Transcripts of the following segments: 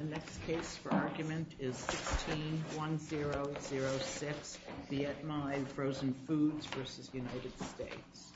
The next case for argument is 16-1006, Viet Minh, Frozen Foods v. United States. This is a case for argument 16-1006, Viet Minh, Frozen Foods v. United States.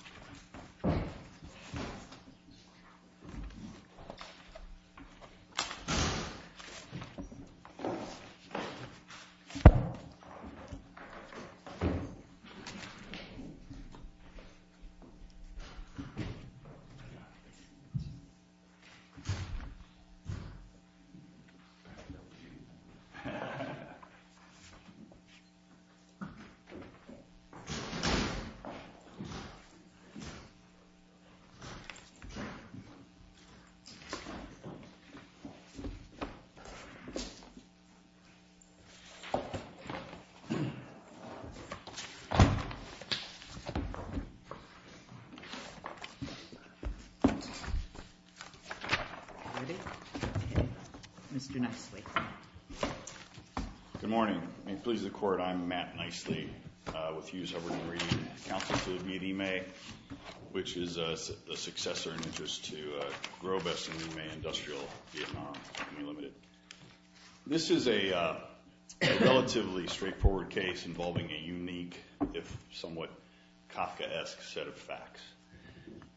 Mr. Nicely. Good morning. May it please the Court, I'm Matt Nicely with Hughes-Hubbard & Green, counsel to the Viet Ime, which is a successor in interest to Grobes and Ime Industrial, Vietnam, Company Limited. This is a relatively straightforward case involving a unique, if somewhat Kafkaesque, set of facts.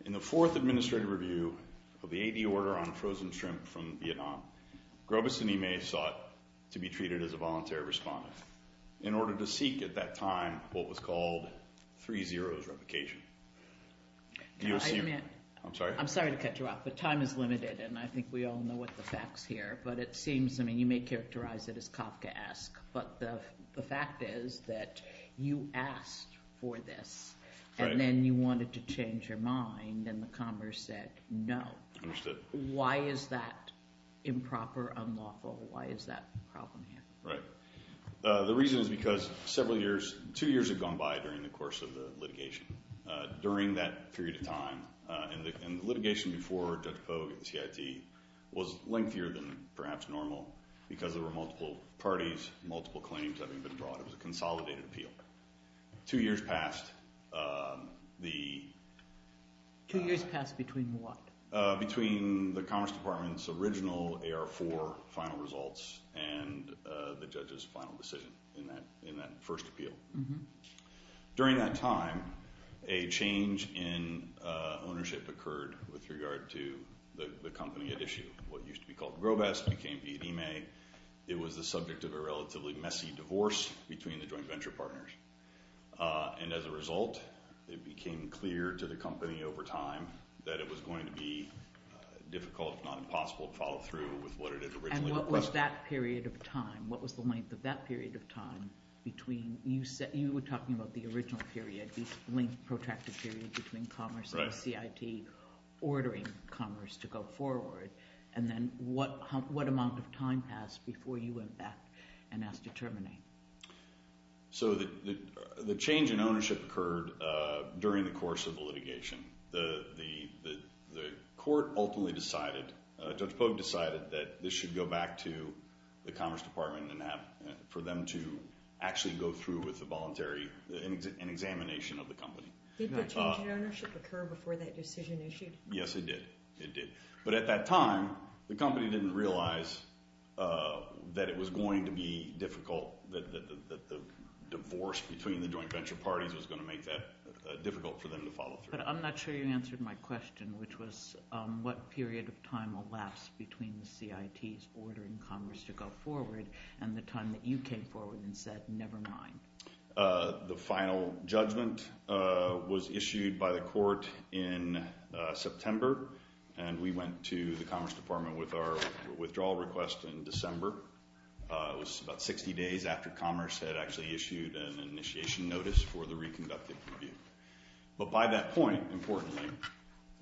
In the fourth administrative review of the AD order on frozen shrimp from Vietnam, Grobes and Ime sought to be treated as a voluntary respondent, in order to seek at that time what was called three zeros replication. I'm sorry to cut you off, but time is limited, and I think we all know what the facts here, but it seems, I mean, you may characterize it as Kafkaesque, but the fact is that you asked for this, and then you wanted to change your mind, and the Congress said no. Why is that improper, unlawful? Why is that a problem here? Right. The reason is because several years, two years have gone by during the course of the litigation. During that period of time, and the litigation before Judge Pogue at the CIT was lengthier than perhaps normal, because there were multiple parties, multiple claims having been brought. It was a consolidated appeal. Two years passed. Two years passed between what? Between the Commerce Department's original AR4 final results and the judge's final decision in that first appeal. During that time, a change in ownership occurred with regard to the company at issue. What used to be called Grobes became Ime. It was the subject of a relatively messy divorce between the joint venture partners. As a result, it became clear to the company over time that it was going to be difficult, if not impossible, to follow through with what it had originally requested. What was that period of time? What was the length of that period of time between – you were talking about the original period, the protracted period between Commerce and the CIT ordering Commerce to go forward. Then what amount of time passed before you went back and asked to terminate? The change in ownership occurred during the course of the litigation. The court ultimately decided – Judge Pogue decided that this should go back to the Commerce Department for them to actually go through with a voluntary – an examination of the company. Did the change in ownership occur before that decision issued? Yes, it did. It did. That it was going to be difficult, that the divorce between the joint venture parties was going to make that difficult for them to follow through. But I'm not sure you answered my question, which was what period of time elapsed between the CIT's ordering Commerce to go forward and the time that you came forward and said, never mind. The final judgment was issued by the court in September, and we went to the Commerce Department with our withdrawal request in December. It was about 60 days after Commerce had actually issued an initiation notice for the reconducted review. But by that point, importantly,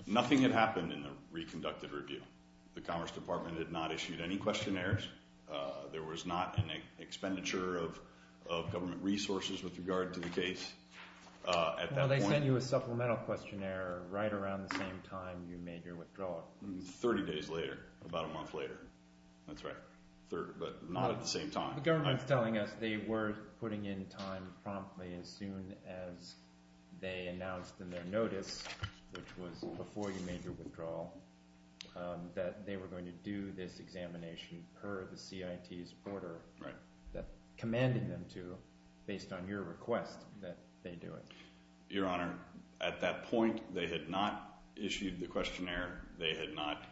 nothing had happened in the reconducted review. The Commerce Department had not issued any questionnaires. There was not an expenditure of government resources with regard to the case at that point. Well, they sent you a supplemental questionnaire right around the same time you made your withdrawal. Thirty days later, about a month later. That's right. But not at the same time. The government is telling us they were putting in time promptly as soon as they announced in their notice, which was before you made your withdrawal, that they were going to do this examination per the CIT's order that commanded them to based on your request that they do it. Your Honor, at that point, they had not issued the questionnaire. They had not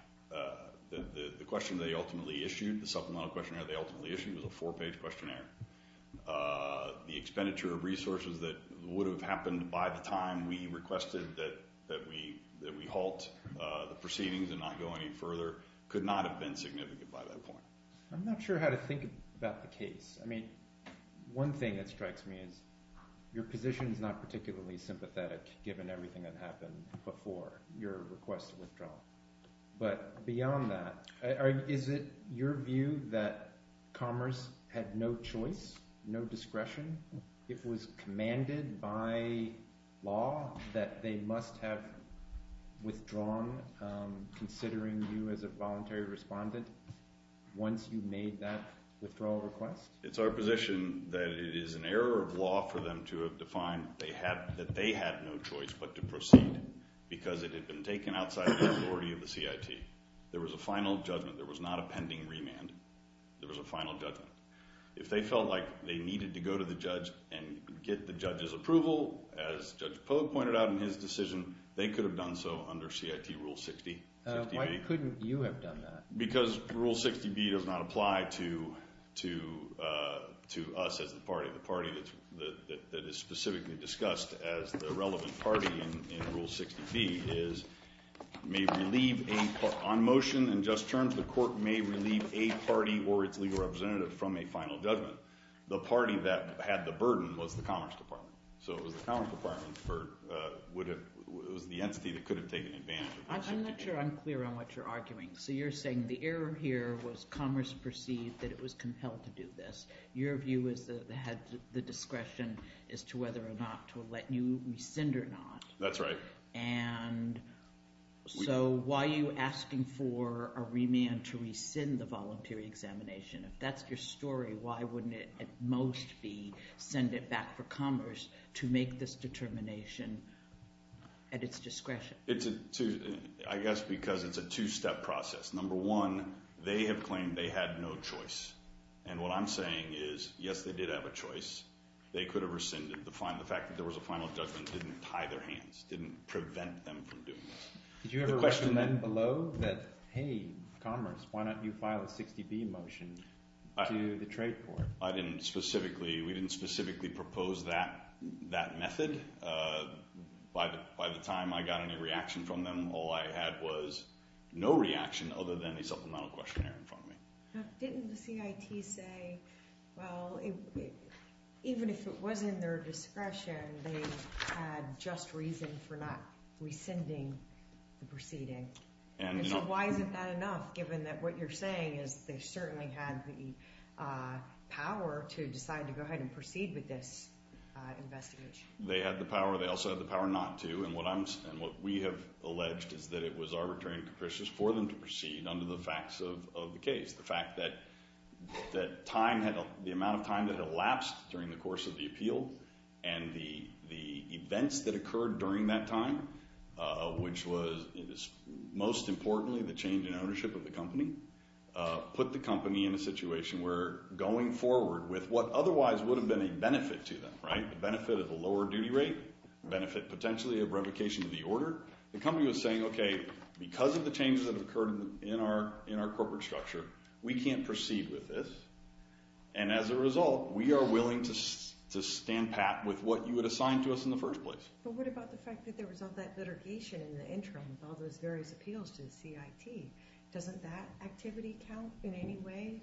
– the question they ultimately issued, the supplemental questionnaire they ultimately issued was a four-page questionnaire. The expenditure of resources that would have happened by the time we requested that we halt the proceedings and not go any further could not have been significant by that point. I'm not sure how to think about the case. I mean one thing that strikes me is your position is not particularly sympathetic given everything that happened before your request to withdraw. But beyond that, is it your view that Commerce had no choice, no discretion? It was commanded by law that they must have withdrawn considering you as a voluntary respondent once you made that withdrawal request? It's our position that it is an error of law for them to have defined that they had no choice but to proceed because it had been taken outside the authority of the CIT. There was a final judgment. There was not a pending remand. There was a final judgment. If they felt like they needed to go to the judge and get the judge's approval, as Judge Pogue pointed out in his decision, they could have done so under CIT Rule 60. Why couldn't you have done that? Because Rule 60B does not apply to us as the party. The party that is specifically discussed as the relevant party in Rule 60B is – may relieve a – on motion and just terms, the court may relieve a party or its legal representative from a final judgment. The party that had the burden was the Commerce Department. So it was the Commerce Department for – it was the entity that could have taken advantage of Rule 60B. I'm not sure I'm clear on what you're arguing. So you're saying the error here was Commerce perceived that it was compelled to do this. Your view is that they had the discretion as to whether or not to let you rescind or not. That's right. And so why are you asking for a remand to rescind the voluntary examination? If that's your story, why wouldn't it at most be send it back for Commerce to make this determination at its discretion? It's a – I guess because it's a two-step process. Number one, they have claimed they had no choice. And what I'm saying is, yes, they did have a choice. They could have rescinded. The fact that there was a final judgment didn't tie their hands, didn't prevent them from doing that. Did you ever recommend below that, hey, Commerce, why don't you file a 60B motion to the trade court? I didn't specifically – we didn't specifically propose that method. By the time I got any reaction from them, all I had was no reaction other than a supplemental questionnaire in front of me. Now, didn't the CIT say, well, even if it was in their discretion, they had just reason for not rescinding the proceeding? And so why isn't that enough given that what you're saying is they certainly had the power to decide to go ahead and proceed with this investigation? They had the power. They also had the power not to. And what I'm – and what we have alleged is that it was arbitrary and capricious for them to proceed under the facts of the case. The fact that time had – the amount of time that had elapsed during the course of the appeal and the events that occurred during that time, which was most importantly the change in ownership of the company, put the company in a situation where going forward with what otherwise would have been a benefit to them, right, a benefit of a lower duty rate, benefit potentially of revocation of the order. The company was saying, okay, because of the changes that have occurred in our corporate structure, we can't proceed with this. And as a result, we are willing to stand pat with what you had assigned to us in the first place. But what about the fact that there was all that litigation in the interim of all those various appeals to the CIT? Doesn't that activity count in any way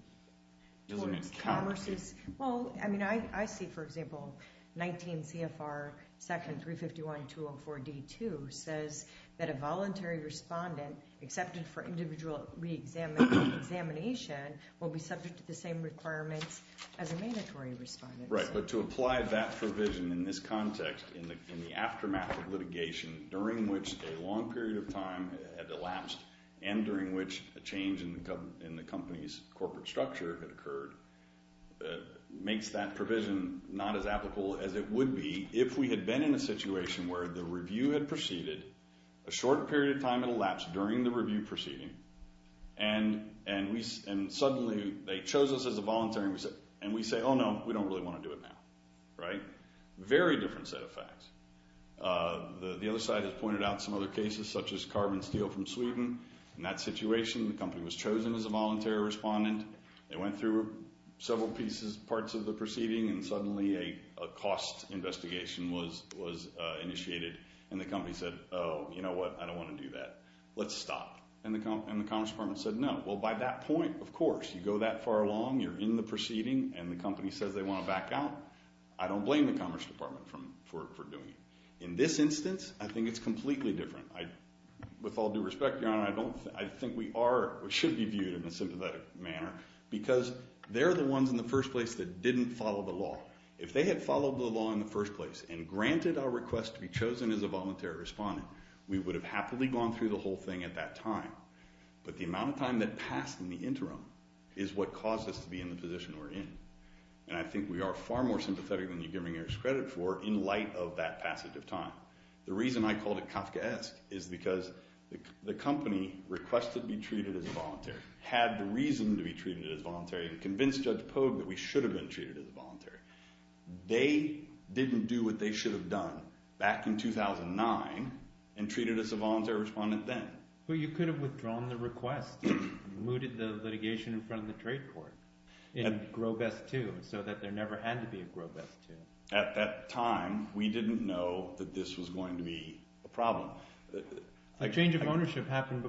towards commerce's – Doesn't it count? Well, I mean I see, for example, 19 CFR section 351.204.d.2 says that a voluntary respondent accepted for individual reexamination will be subject to the same requirements as a mandatory respondent. Right, but to apply that provision in this context in the aftermath of litigation during which a long period of time had elapsed and during which a change in the company's corporate structure had occurred makes that provision not as applicable as it would be if we had been in a situation where the review had proceeded, a short period of time had elapsed during the review proceeding, and suddenly they chose us as a voluntary and we say, oh, no, we don't really want to do it now, right? Very different set of facts. The other side has pointed out some other cases such as carbon steel from Sweden. In that situation, the company was chosen as a voluntary respondent. They went through several pieces, parts of the proceeding, and suddenly a cost investigation was initiated, and the company said, oh, you know what? I don't want to do that. Let's stop. And the Commerce Department said no. Well, by that point, of course, you go that far along, you're in the proceeding, and the company says they want to back out. I don't blame the Commerce Department for doing it. In this instance, I think it's completely different. With all due respect, Your Honor, I think we are or should be viewed in a sympathetic manner because they're the ones in the first place that didn't follow the law. If they had followed the law in the first place and granted our request to be chosen as a voluntary respondent, we would have happily gone through the whole thing at that time. But the amount of time that passed in the interim is what caused us to be in the position we're in, and I think we are far more sympathetic than you give me any credit for in light of that passage of time. The reason I called it Kafkaesque is because the company requested to be treated as voluntary, had the reason to be treated as voluntary, and convinced Judge Pogue that we should have been treated as voluntary. They didn't do what they should have done back in 2009 and treated us a voluntary respondent then. But you could have withdrawn the request and mooted the litigation in front of the trade court in Grove S. 2 so that there never had to be a Grove S. 2. At that time, we didn't know that this was going to be a problem. A change of ownership happened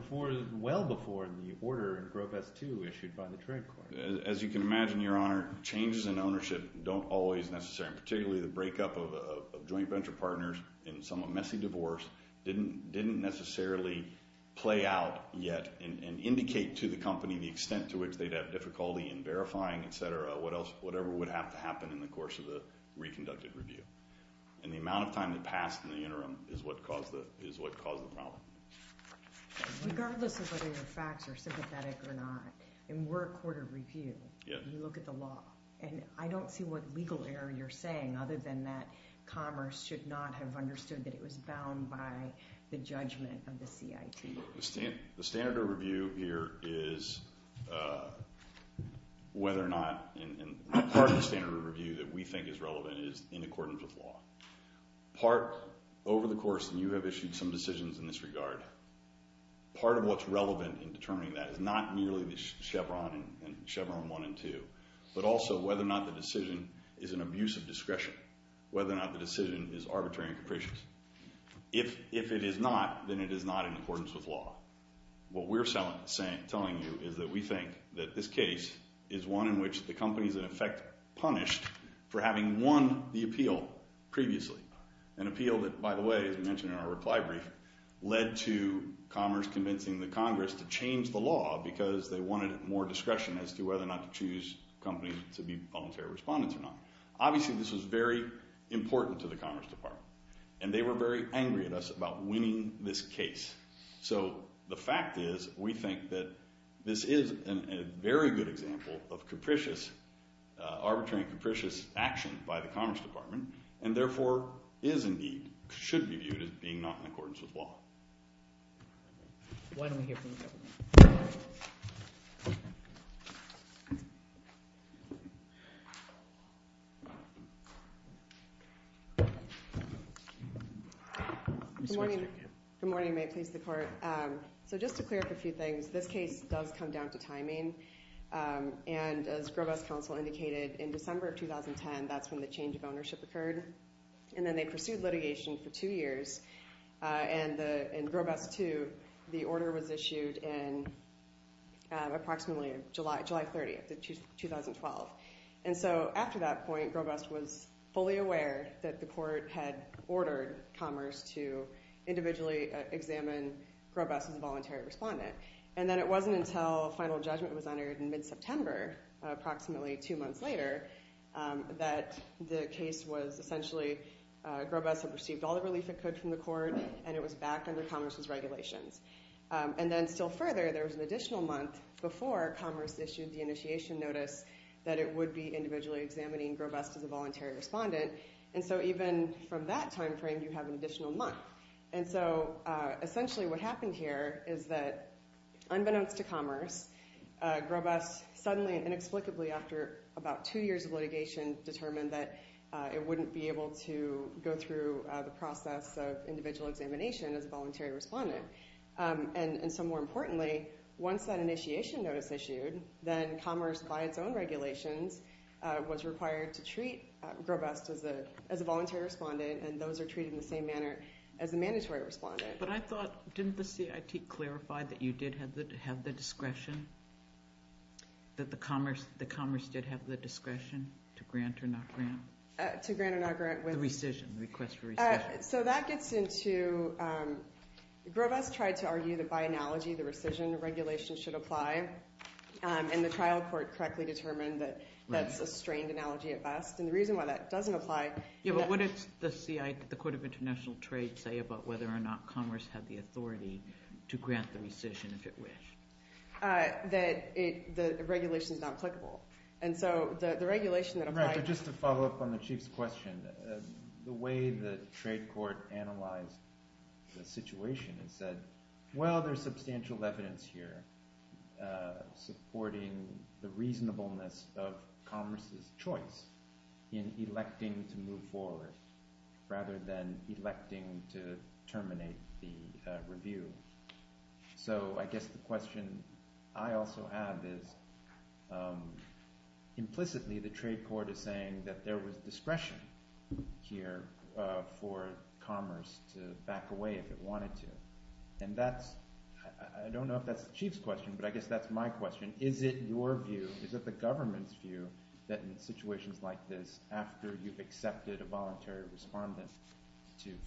well before the order in Grove S. 2 issued by the trade court. As you can imagine, Your Honor, changes in ownership don't always necessarily – and indicate to the company the extent to which they'd have difficulty in verifying, et cetera, whatever would have to happen in the course of the reconducted review. And the amount of time that passed in the interim is what caused the problem. Regardless of whether your facts are sympathetic or not, in work order review, you look at the law, and I don't see what legal error you're saying other than that commerce should not have understood that it was bound by the judgment of the CIT. The standard of review here is whether or not – and part of the standard of review that we think is relevant is in accordance with law. Part over the course – and you have issued some decisions in this regard – part of what's relevant in determining that is not merely Chevron 1 and 2, but also whether or not the decision is an abuse of discretion, whether or not the decision is arbitrary and capricious. If it is not, then it is not in accordance with law. What we're telling you is that we think that this case is one in which the company is, in effect, punished for having won the appeal previously, an appeal that, by the way, as we mentioned in our reply brief, led to commerce convincing the Congress to change the law because they wanted more discretion as to whether or not to choose companies to be unfair respondents or not. Obviously, this was very important to the Commerce Department, and they were very angry at us about winning this case. So the fact is we think that this is a very good example of capricious – arbitrary and capricious action by the Commerce Department and therefore is indeed – should be viewed as being not in accordance with law. Why don't we hear from you? Good morning. Good morning. May it please the Court. So just to clear up a few things, this case does come down to timing, and as Groves Council indicated, in December of 2010, that's when the change of ownership occurred, and then they pursued litigation for two years. And in Groves 2, the order was issued in approximately July 30th of 2012. And so after that point, Groves was fully aware that the court had ordered Commerce to individually examine Groves as a voluntary respondent. And then it wasn't until final judgment was entered in mid-September, approximately two months later, that the case was essentially – Groves had received all the relief it could from the court, and it was back under Commerce's regulations. And then still further, there was an additional month before Commerce issued the initiation notice that it would be individually examining Groves as a voluntary respondent. And so even from that timeframe, you have an additional month. And so essentially what happened here is that unbeknownst to Commerce, Groves suddenly and inexplicably, after about two years of litigation, determined that it wouldn't be able to go through the process of individual examination as a voluntary respondent. And so more importantly, once that initiation notice issued, then Commerce, by its own regulations, was required to treat Groves as a voluntary respondent, and those are treated in the same manner as a mandatory respondent. But I thought – didn't the CIT clarify that you did have the discretion, that Commerce did have the discretion to grant or not grant? To grant or not grant? The rescission, the request for rescission. So that gets into – Groves tried to argue that by analogy, the rescission regulation should apply, and the trial court correctly determined that that's a strained analogy at best. And the reason why that doesn't apply – But what does the CIT, the Court of International Trade, say about whether or not Commerce had the authority to grant the rescission if it wished? That the regulation is not applicable. And so the regulation that applies – Right, but just to follow up on the Chief's question, the way the trade court analyzed the situation and said, well, there's substantial evidence here supporting the reasonableness of Commerce's choice in electing to move forward rather than electing to terminate the review. So I guess the question I also have is implicitly the trade court is saying that there was discretion here for Commerce to back away if it wanted to. And that's – I don't know if that's the Chief's question, but I guess that's my question. Is it your view, is it the government's view, that in situations like this, after you've accepted a voluntary respondent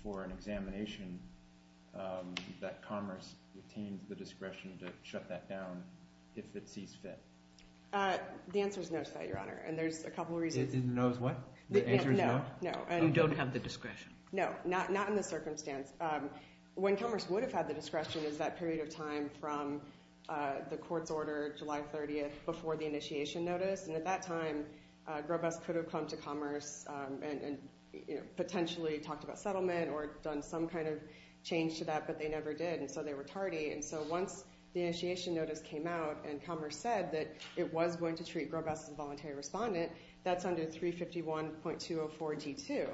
for an examination, that Commerce retains the discretion to shut that down if it sees fit? The answer is no to that, Your Honor, and there's a couple of reasons. The answer is no? No. You don't have the discretion. No, not in this circumstance. When Commerce would have had the discretion is that period of time from the court's order July 30th before the initiation notice. And at that time, Grobesque could have come to Commerce and potentially talked about settlement or done some kind of change to that, but they never did, and so they were tardy. And so once the initiation notice came out and Commerce said that it was going to treat Grobesque as a voluntary respondent, that's under 351.204 D2.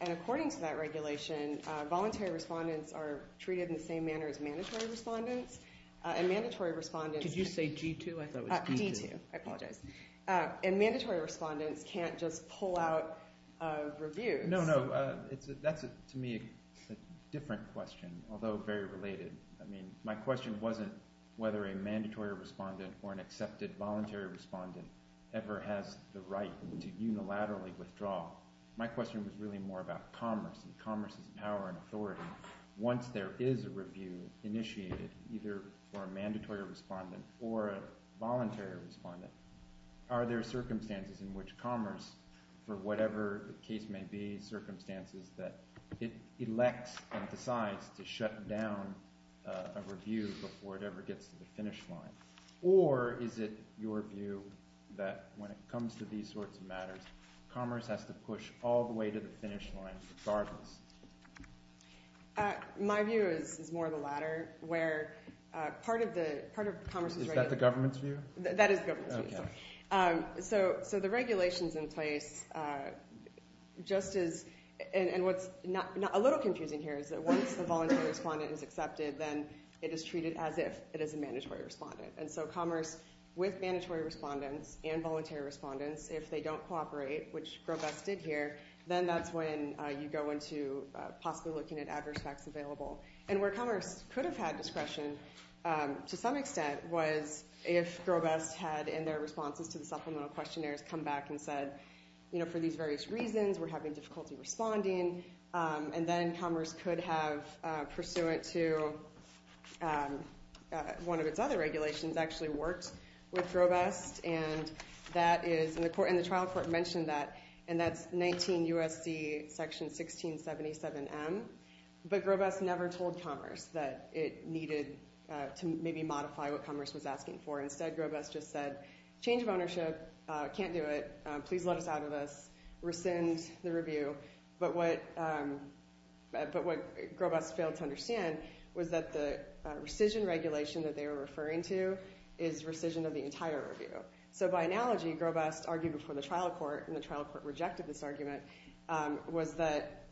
And according to that regulation, voluntary respondents are treated in the same manner as mandatory respondents. Could you say G2? D2, I apologize. And mandatory respondents can't just pull out reviews. No, no. That's, to me, a different question, although very related. I mean, my question wasn't whether a mandatory respondent or an accepted voluntary respondent ever has the right to unilaterally withdraw. My question was really more about Commerce and Commerce's power and authority once there is a review initiated, either for a mandatory respondent or a voluntary respondent. Are there circumstances in which Commerce, for whatever the case may be, circumstances that it elects and decides to shut down a review before it ever gets to the finish line? Or is it your view that when it comes to these sorts of matters, Commerce has to push all the way to the finish line regardless? My view is more the latter, where part of Commerce's regulation- Is that the government's view? That is the government's view. So the regulation's in place just as- and what's a little confusing here is that once the voluntary respondent is accepted, then it is treated as if it is a mandatory respondent. And so Commerce, with mandatory respondents and voluntary respondents, if they don't cooperate, which Groves did here, then that's when you go into possibly looking at adverse facts available. And where Commerce could have had discretion, to some extent, was if Grovest had, in their responses to the supplemental questionnaires, come back and said, you know, for these various reasons, we're having difficulty responding. And then Commerce could have, pursuant to one of its other regulations, actually worked with Grovest. And the trial court mentioned that, and that's 19 U.S.C. section 1677M. But Grovest never told Commerce that it needed to maybe modify what Commerce was asking for. Instead, Grovest just said, change of ownership, can't do it, please let us out of this, rescind the review. But what Grovest failed to understand was that the rescission regulation that they were referring to is rescission of the entire review. So by analogy, Grovest argued before the trial court, and the trial court rejected this argument, was that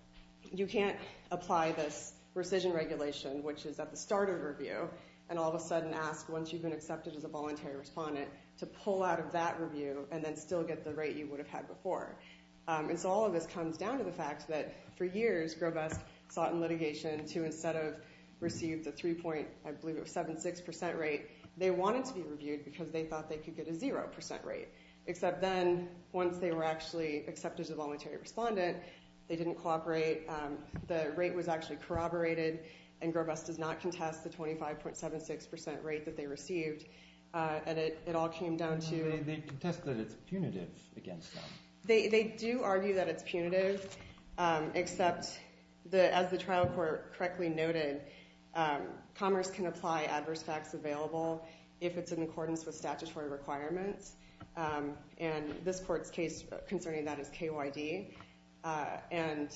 you can't apply this rescission regulation, which is at the start of a review, and all of a sudden ask, once you've been accepted as a voluntary respondent, to pull out of that review and then still get the rate you would have had before. And so all of this comes down to the fact that, for years, Grovest sought in litigation to, instead of receive the 3.76% rate, they wanted to be reviewed because they thought they could get a 0% rate. Except then, once they were actually accepted as a voluntary respondent, they didn't cooperate, the rate was actually corroborated, and Grovest does not contest the 25.76% rate that they received. And it all came down to- They contest that it's punitive against them. They do argue that it's punitive, except, as the trial court correctly noted, commerce can apply adverse facts available if it's in accordance with statutory requirements. And this court's case concerning that is KYD. And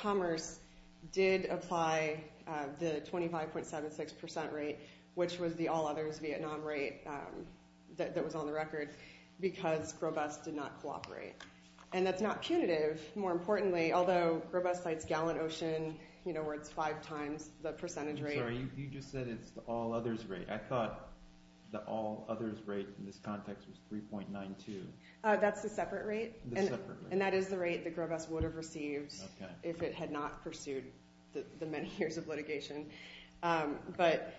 commerce did apply the 25.76% rate, which was the all-others Vietnam rate that was on the record, because Grovest did not cooperate. And that's not punitive, more importantly, although Grovest cites Gallant Ocean, where it's five times the percentage rate. Sorry, you just said it's the all-others rate. I thought the all-others rate in this context was 3.92. That's the separate rate. The separate rate. And that is the rate that Grovest would have received if it had not pursued the many years of litigation. But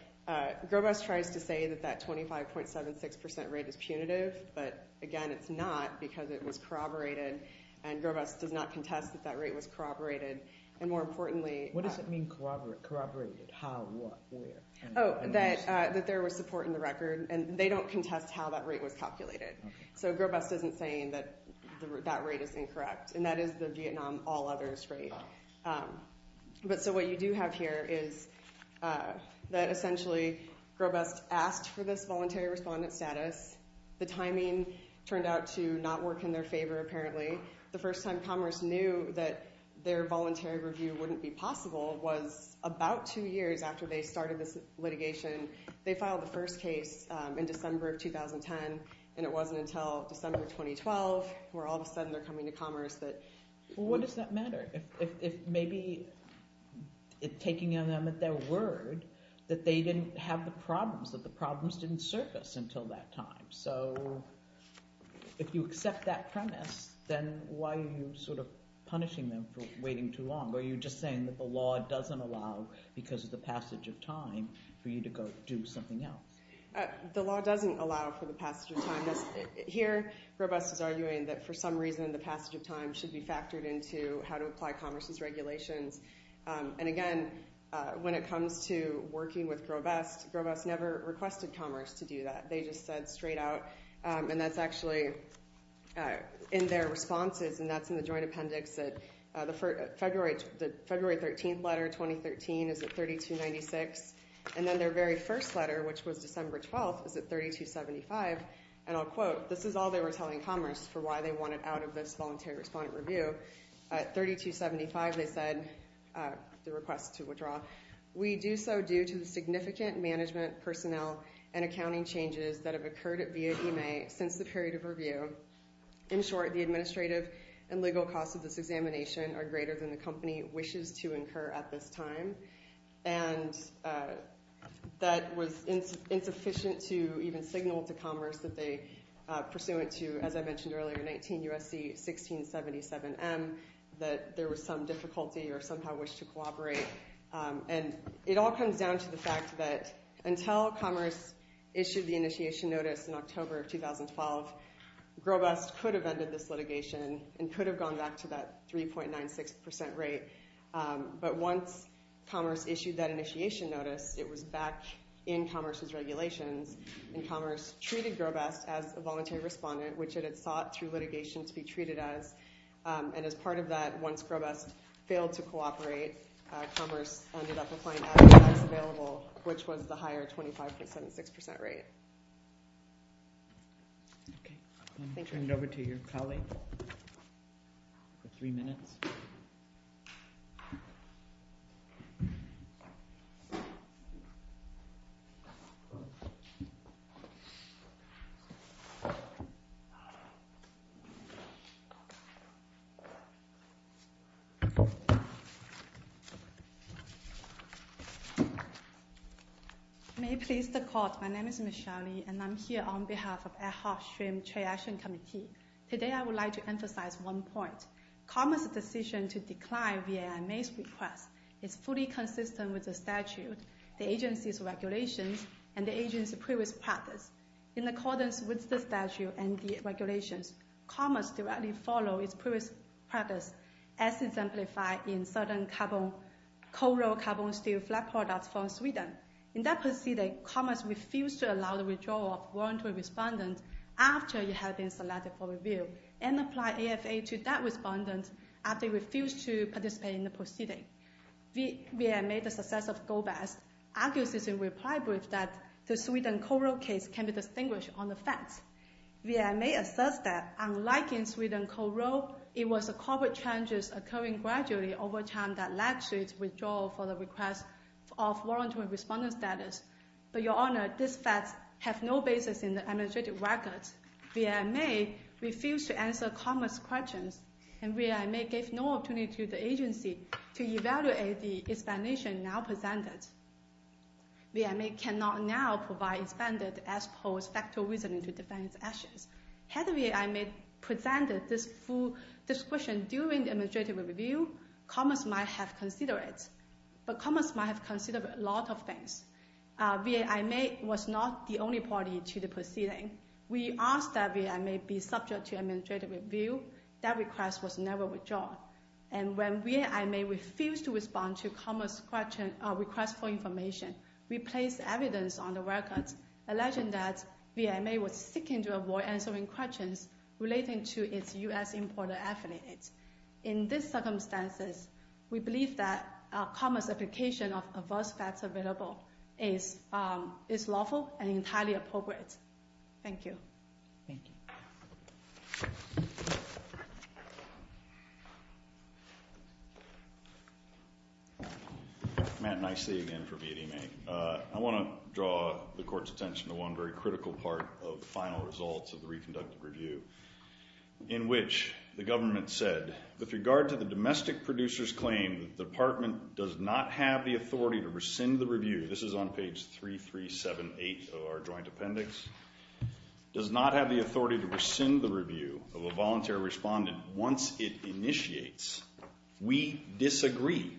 Grovest tries to say that that 25.76% rate is punitive, but, again, it's not because it was corroborated, and Grovest does not contest that that rate was corroborated. And, more importantly, What does it mean corroborated? How, what, where? Oh, that there was support in the record. And they don't contest how that rate was calculated. So Grovest isn't saying that that rate is incorrect, and that is the Vietnam all-others rate. But so what you do have here is that, essentially, Grovest asked for this voluntary respondent status. The timing turned out to not work in their favor, apparently. The first time Commerce knew that their voluntary review wouldn't be possible was about two years after they started this litigation. They filed the first case in December of 2010, and it wasn't until December 2012, where all of a sudden they're coming to Commerce, that, well, what does that matter? If maybe taking on them at their word that they didn't have the problems, that the problems didn't surface until that time. So if you accept that premise, then why are you sort of punishing them for waiting too long? Are you just saying that the law doesn't allow, because of the passage of time, for you to go do something else? The law doesn't allow for the passage of time. Here, Grovest is arguing that, for some reason, the passage of time should be factored into how to apply Commerce's regulations. And, again, when it comes to working with Grovest, Grovest never requested Commerce to do that. They just said straight out, and that's actually in their responses, and that's in the joint appendix. The February 13th letter, 2013, is at 3296, and then their very first letter, which was December 12th, is at 3275, and I'll quote. This is all they were telling Commerce for why they wanted out of this voluntary respondent review. At 3275, they said, the request to withdraw, we do so due to the significant management, personnel, and accounting changes that have occurred at VIA EMA since the period of review. In short, the administrative and legal costs of this examination are greater than the company wishes to incur at this time. And that was insufficient to even signal to Commerce that they, pursuant to, as I mentioned earlier, 19 U.S.C. 1677M, that there was some difficulty or somehow wished to cooperate. And it all comes down to the fact that until Commerce issued the initiation notice in October of 2012, Grobest could have ended this litigation and could have gone back to that 3.96% rate. But once Commerce issued that initiation notice, it was back in Commerce's regulations, and Commerce treated Grobest as a voluntary respondent, which it had sought through litigation to be treated as. And as part of that, once Grobest failed to cooperate, Commerce ended up applying as-is tax available, which was the higher 25.76% rate. Thank you. I'm going to turn it over to your colleague for three minutes. Thank you. May it please the court, my name is Michelle Lee, and I'm here on behalf of Ad Hoc Stream Trade Action Committee. Today, I would like to emphasize one point. Commerce's decision to decline VIMA's request is fully consistent with the statute, the agency's regulations, and the agency's previous practice. In accordance with the statute and the regulations, Commerce directly followed its previous practice as exemplified in certain coal-rolled, carbon-steel flat products from Sweden. In that proceeding, Commerce refused to allow the withdrawal of a voluntary respondent after it had been selected for review, and applied AFA to that respondent after it refused to participate in the proceeding. VIMA, the successor of Grobest, argues in its reply brief that the Sweden coal-rolled case can be distinguished on the facts. VIMA asserts that, unlike in Sweden coal-rolled, it was the carbon changes occurring gradually over time that led to its withdrawal for the request of voluntary respondent status. But your honor, these facts have no basis in the administrative records. VIMA refused to answer Commerce's questions, and VIMA gave no opportunity to the agency to evaluate the explanation now presented. VIMA cannot now provide expanded as-posed factor reasoning to defend its actions. Had VIMA presented this full description during the administrative review, Commerce might have considered it. But Commerce might have considered a lot of things. VIMA was not the only party to the proceeding. We asked that VIMA be subject to administrative review. That request was never withdrawn. And when VIMA refused to respond to Commerce's request for information, we placed evidence on the records alleging that VIMA was seeking to avoid answering questions relating to its US importer affiliates. In these circumstances, we believe that Commerce's application of adverse facts available is lawful and entirely appropriate. Thank you. Thank you. Matt, nice to see you again for VMA. I want to draw the court's attention to one very critical part of the final results of the reconducted review, in which the government said, with regard to the domestic producer's claim that the department does not have the authority to rescind the review, this is on page 3378 of our joint appendix, does not have the authority to rescind the review of a voluntary respondent once it initiates, we disagree.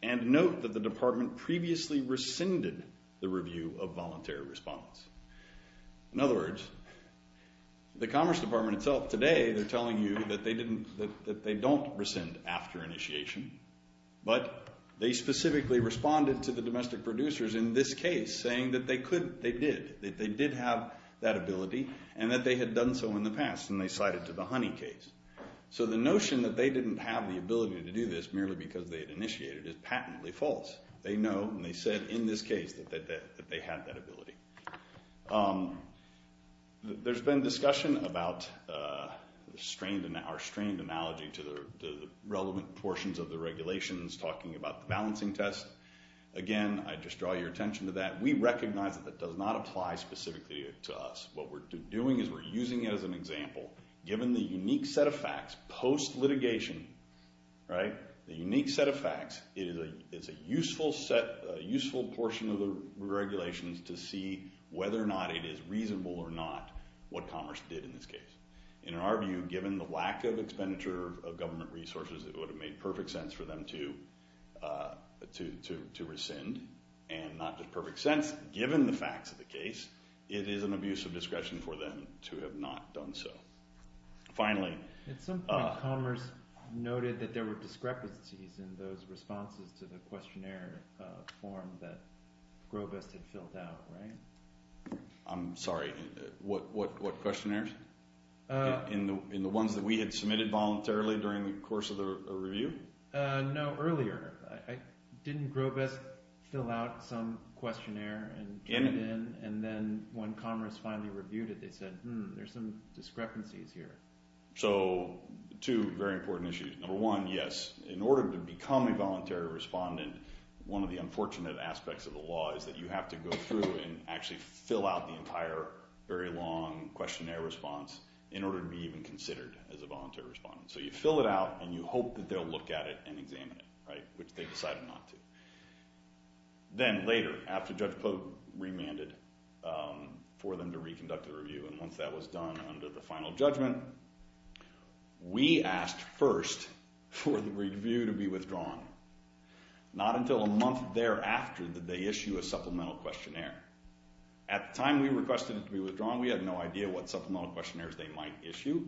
And note that the department previously rescinded the review of voluntary respondents. In other words, the Commerce Department itself today, they're telling you that they don't rescind after initiation, but they specifically responded to the domestic producers in this case, saying that they could, they did, that they did have that ability, and that they had done so in the past, and they cited to the Honey case. So the notion that they didn't have the ability to do this merely because they'd initiated it is patently false. They know, and they said in this case that they had that ability. There's been discussion about our strained analogy to the relevant portions of the regulations, talking about the balancing test. Again, I just draw your attention to that. We recognize that that does not apply specifically to us. What we're doing is we're using it as an example. Given the unique set of facts post-litigation, right, the unique set of facts, it's a useful portion of the regulations to see whether or not it is reasonable or not what Commerce did in this case. In our view, given the lack of expenditure of government resources, it would have made perfect sense for them to rescind. And not just perfect sense, given the facts of the case, it is an abuse of discretion for them to have not done so. Finally... At some point Commerce noted that there were discrepancies in those responses to the questionnaire form that Grobust had filled out, right? I'm sorry, what questionnaires? In the ones that we had submitted voluntarily during the course of the review? No, earlier. Didn't Grobust fill out some questionnaire and then when Commerce finally reviewed it, they said, hmm, there's some discrepancies here. So, two very important issues. Number one, yes, in order to become a voluntary respondent, one of the unfortunate aspects of the law is that you have to go through and actually fill out the entire very long questionnaire response in order to be even considered as a voluntary respondent. So you fill it out and you hope that they'll look at it and examine it, right, which they decided not to. Then later, after Judge Pope remanded for them to reconduct the review, and once that was done under the final judgment, we asked first for the review to be withdrawn. Not until a month thereafter did they issue a supplemental questionnaire. At the time we requested it to be withdrawn, we had no idea what supplemental questionnaires they might issue.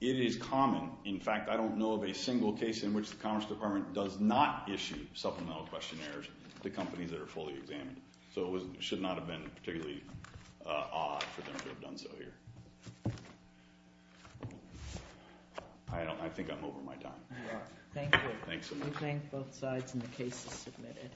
It is common. In fact, I don't know of a single case in which the Commerce Department does not issue supplemental questionnaires to companies that are fully examined. So it should not have been particularly odd for them to have done so here. I think I'm over my time. Thank you. We thank both sides, and the case is submitted.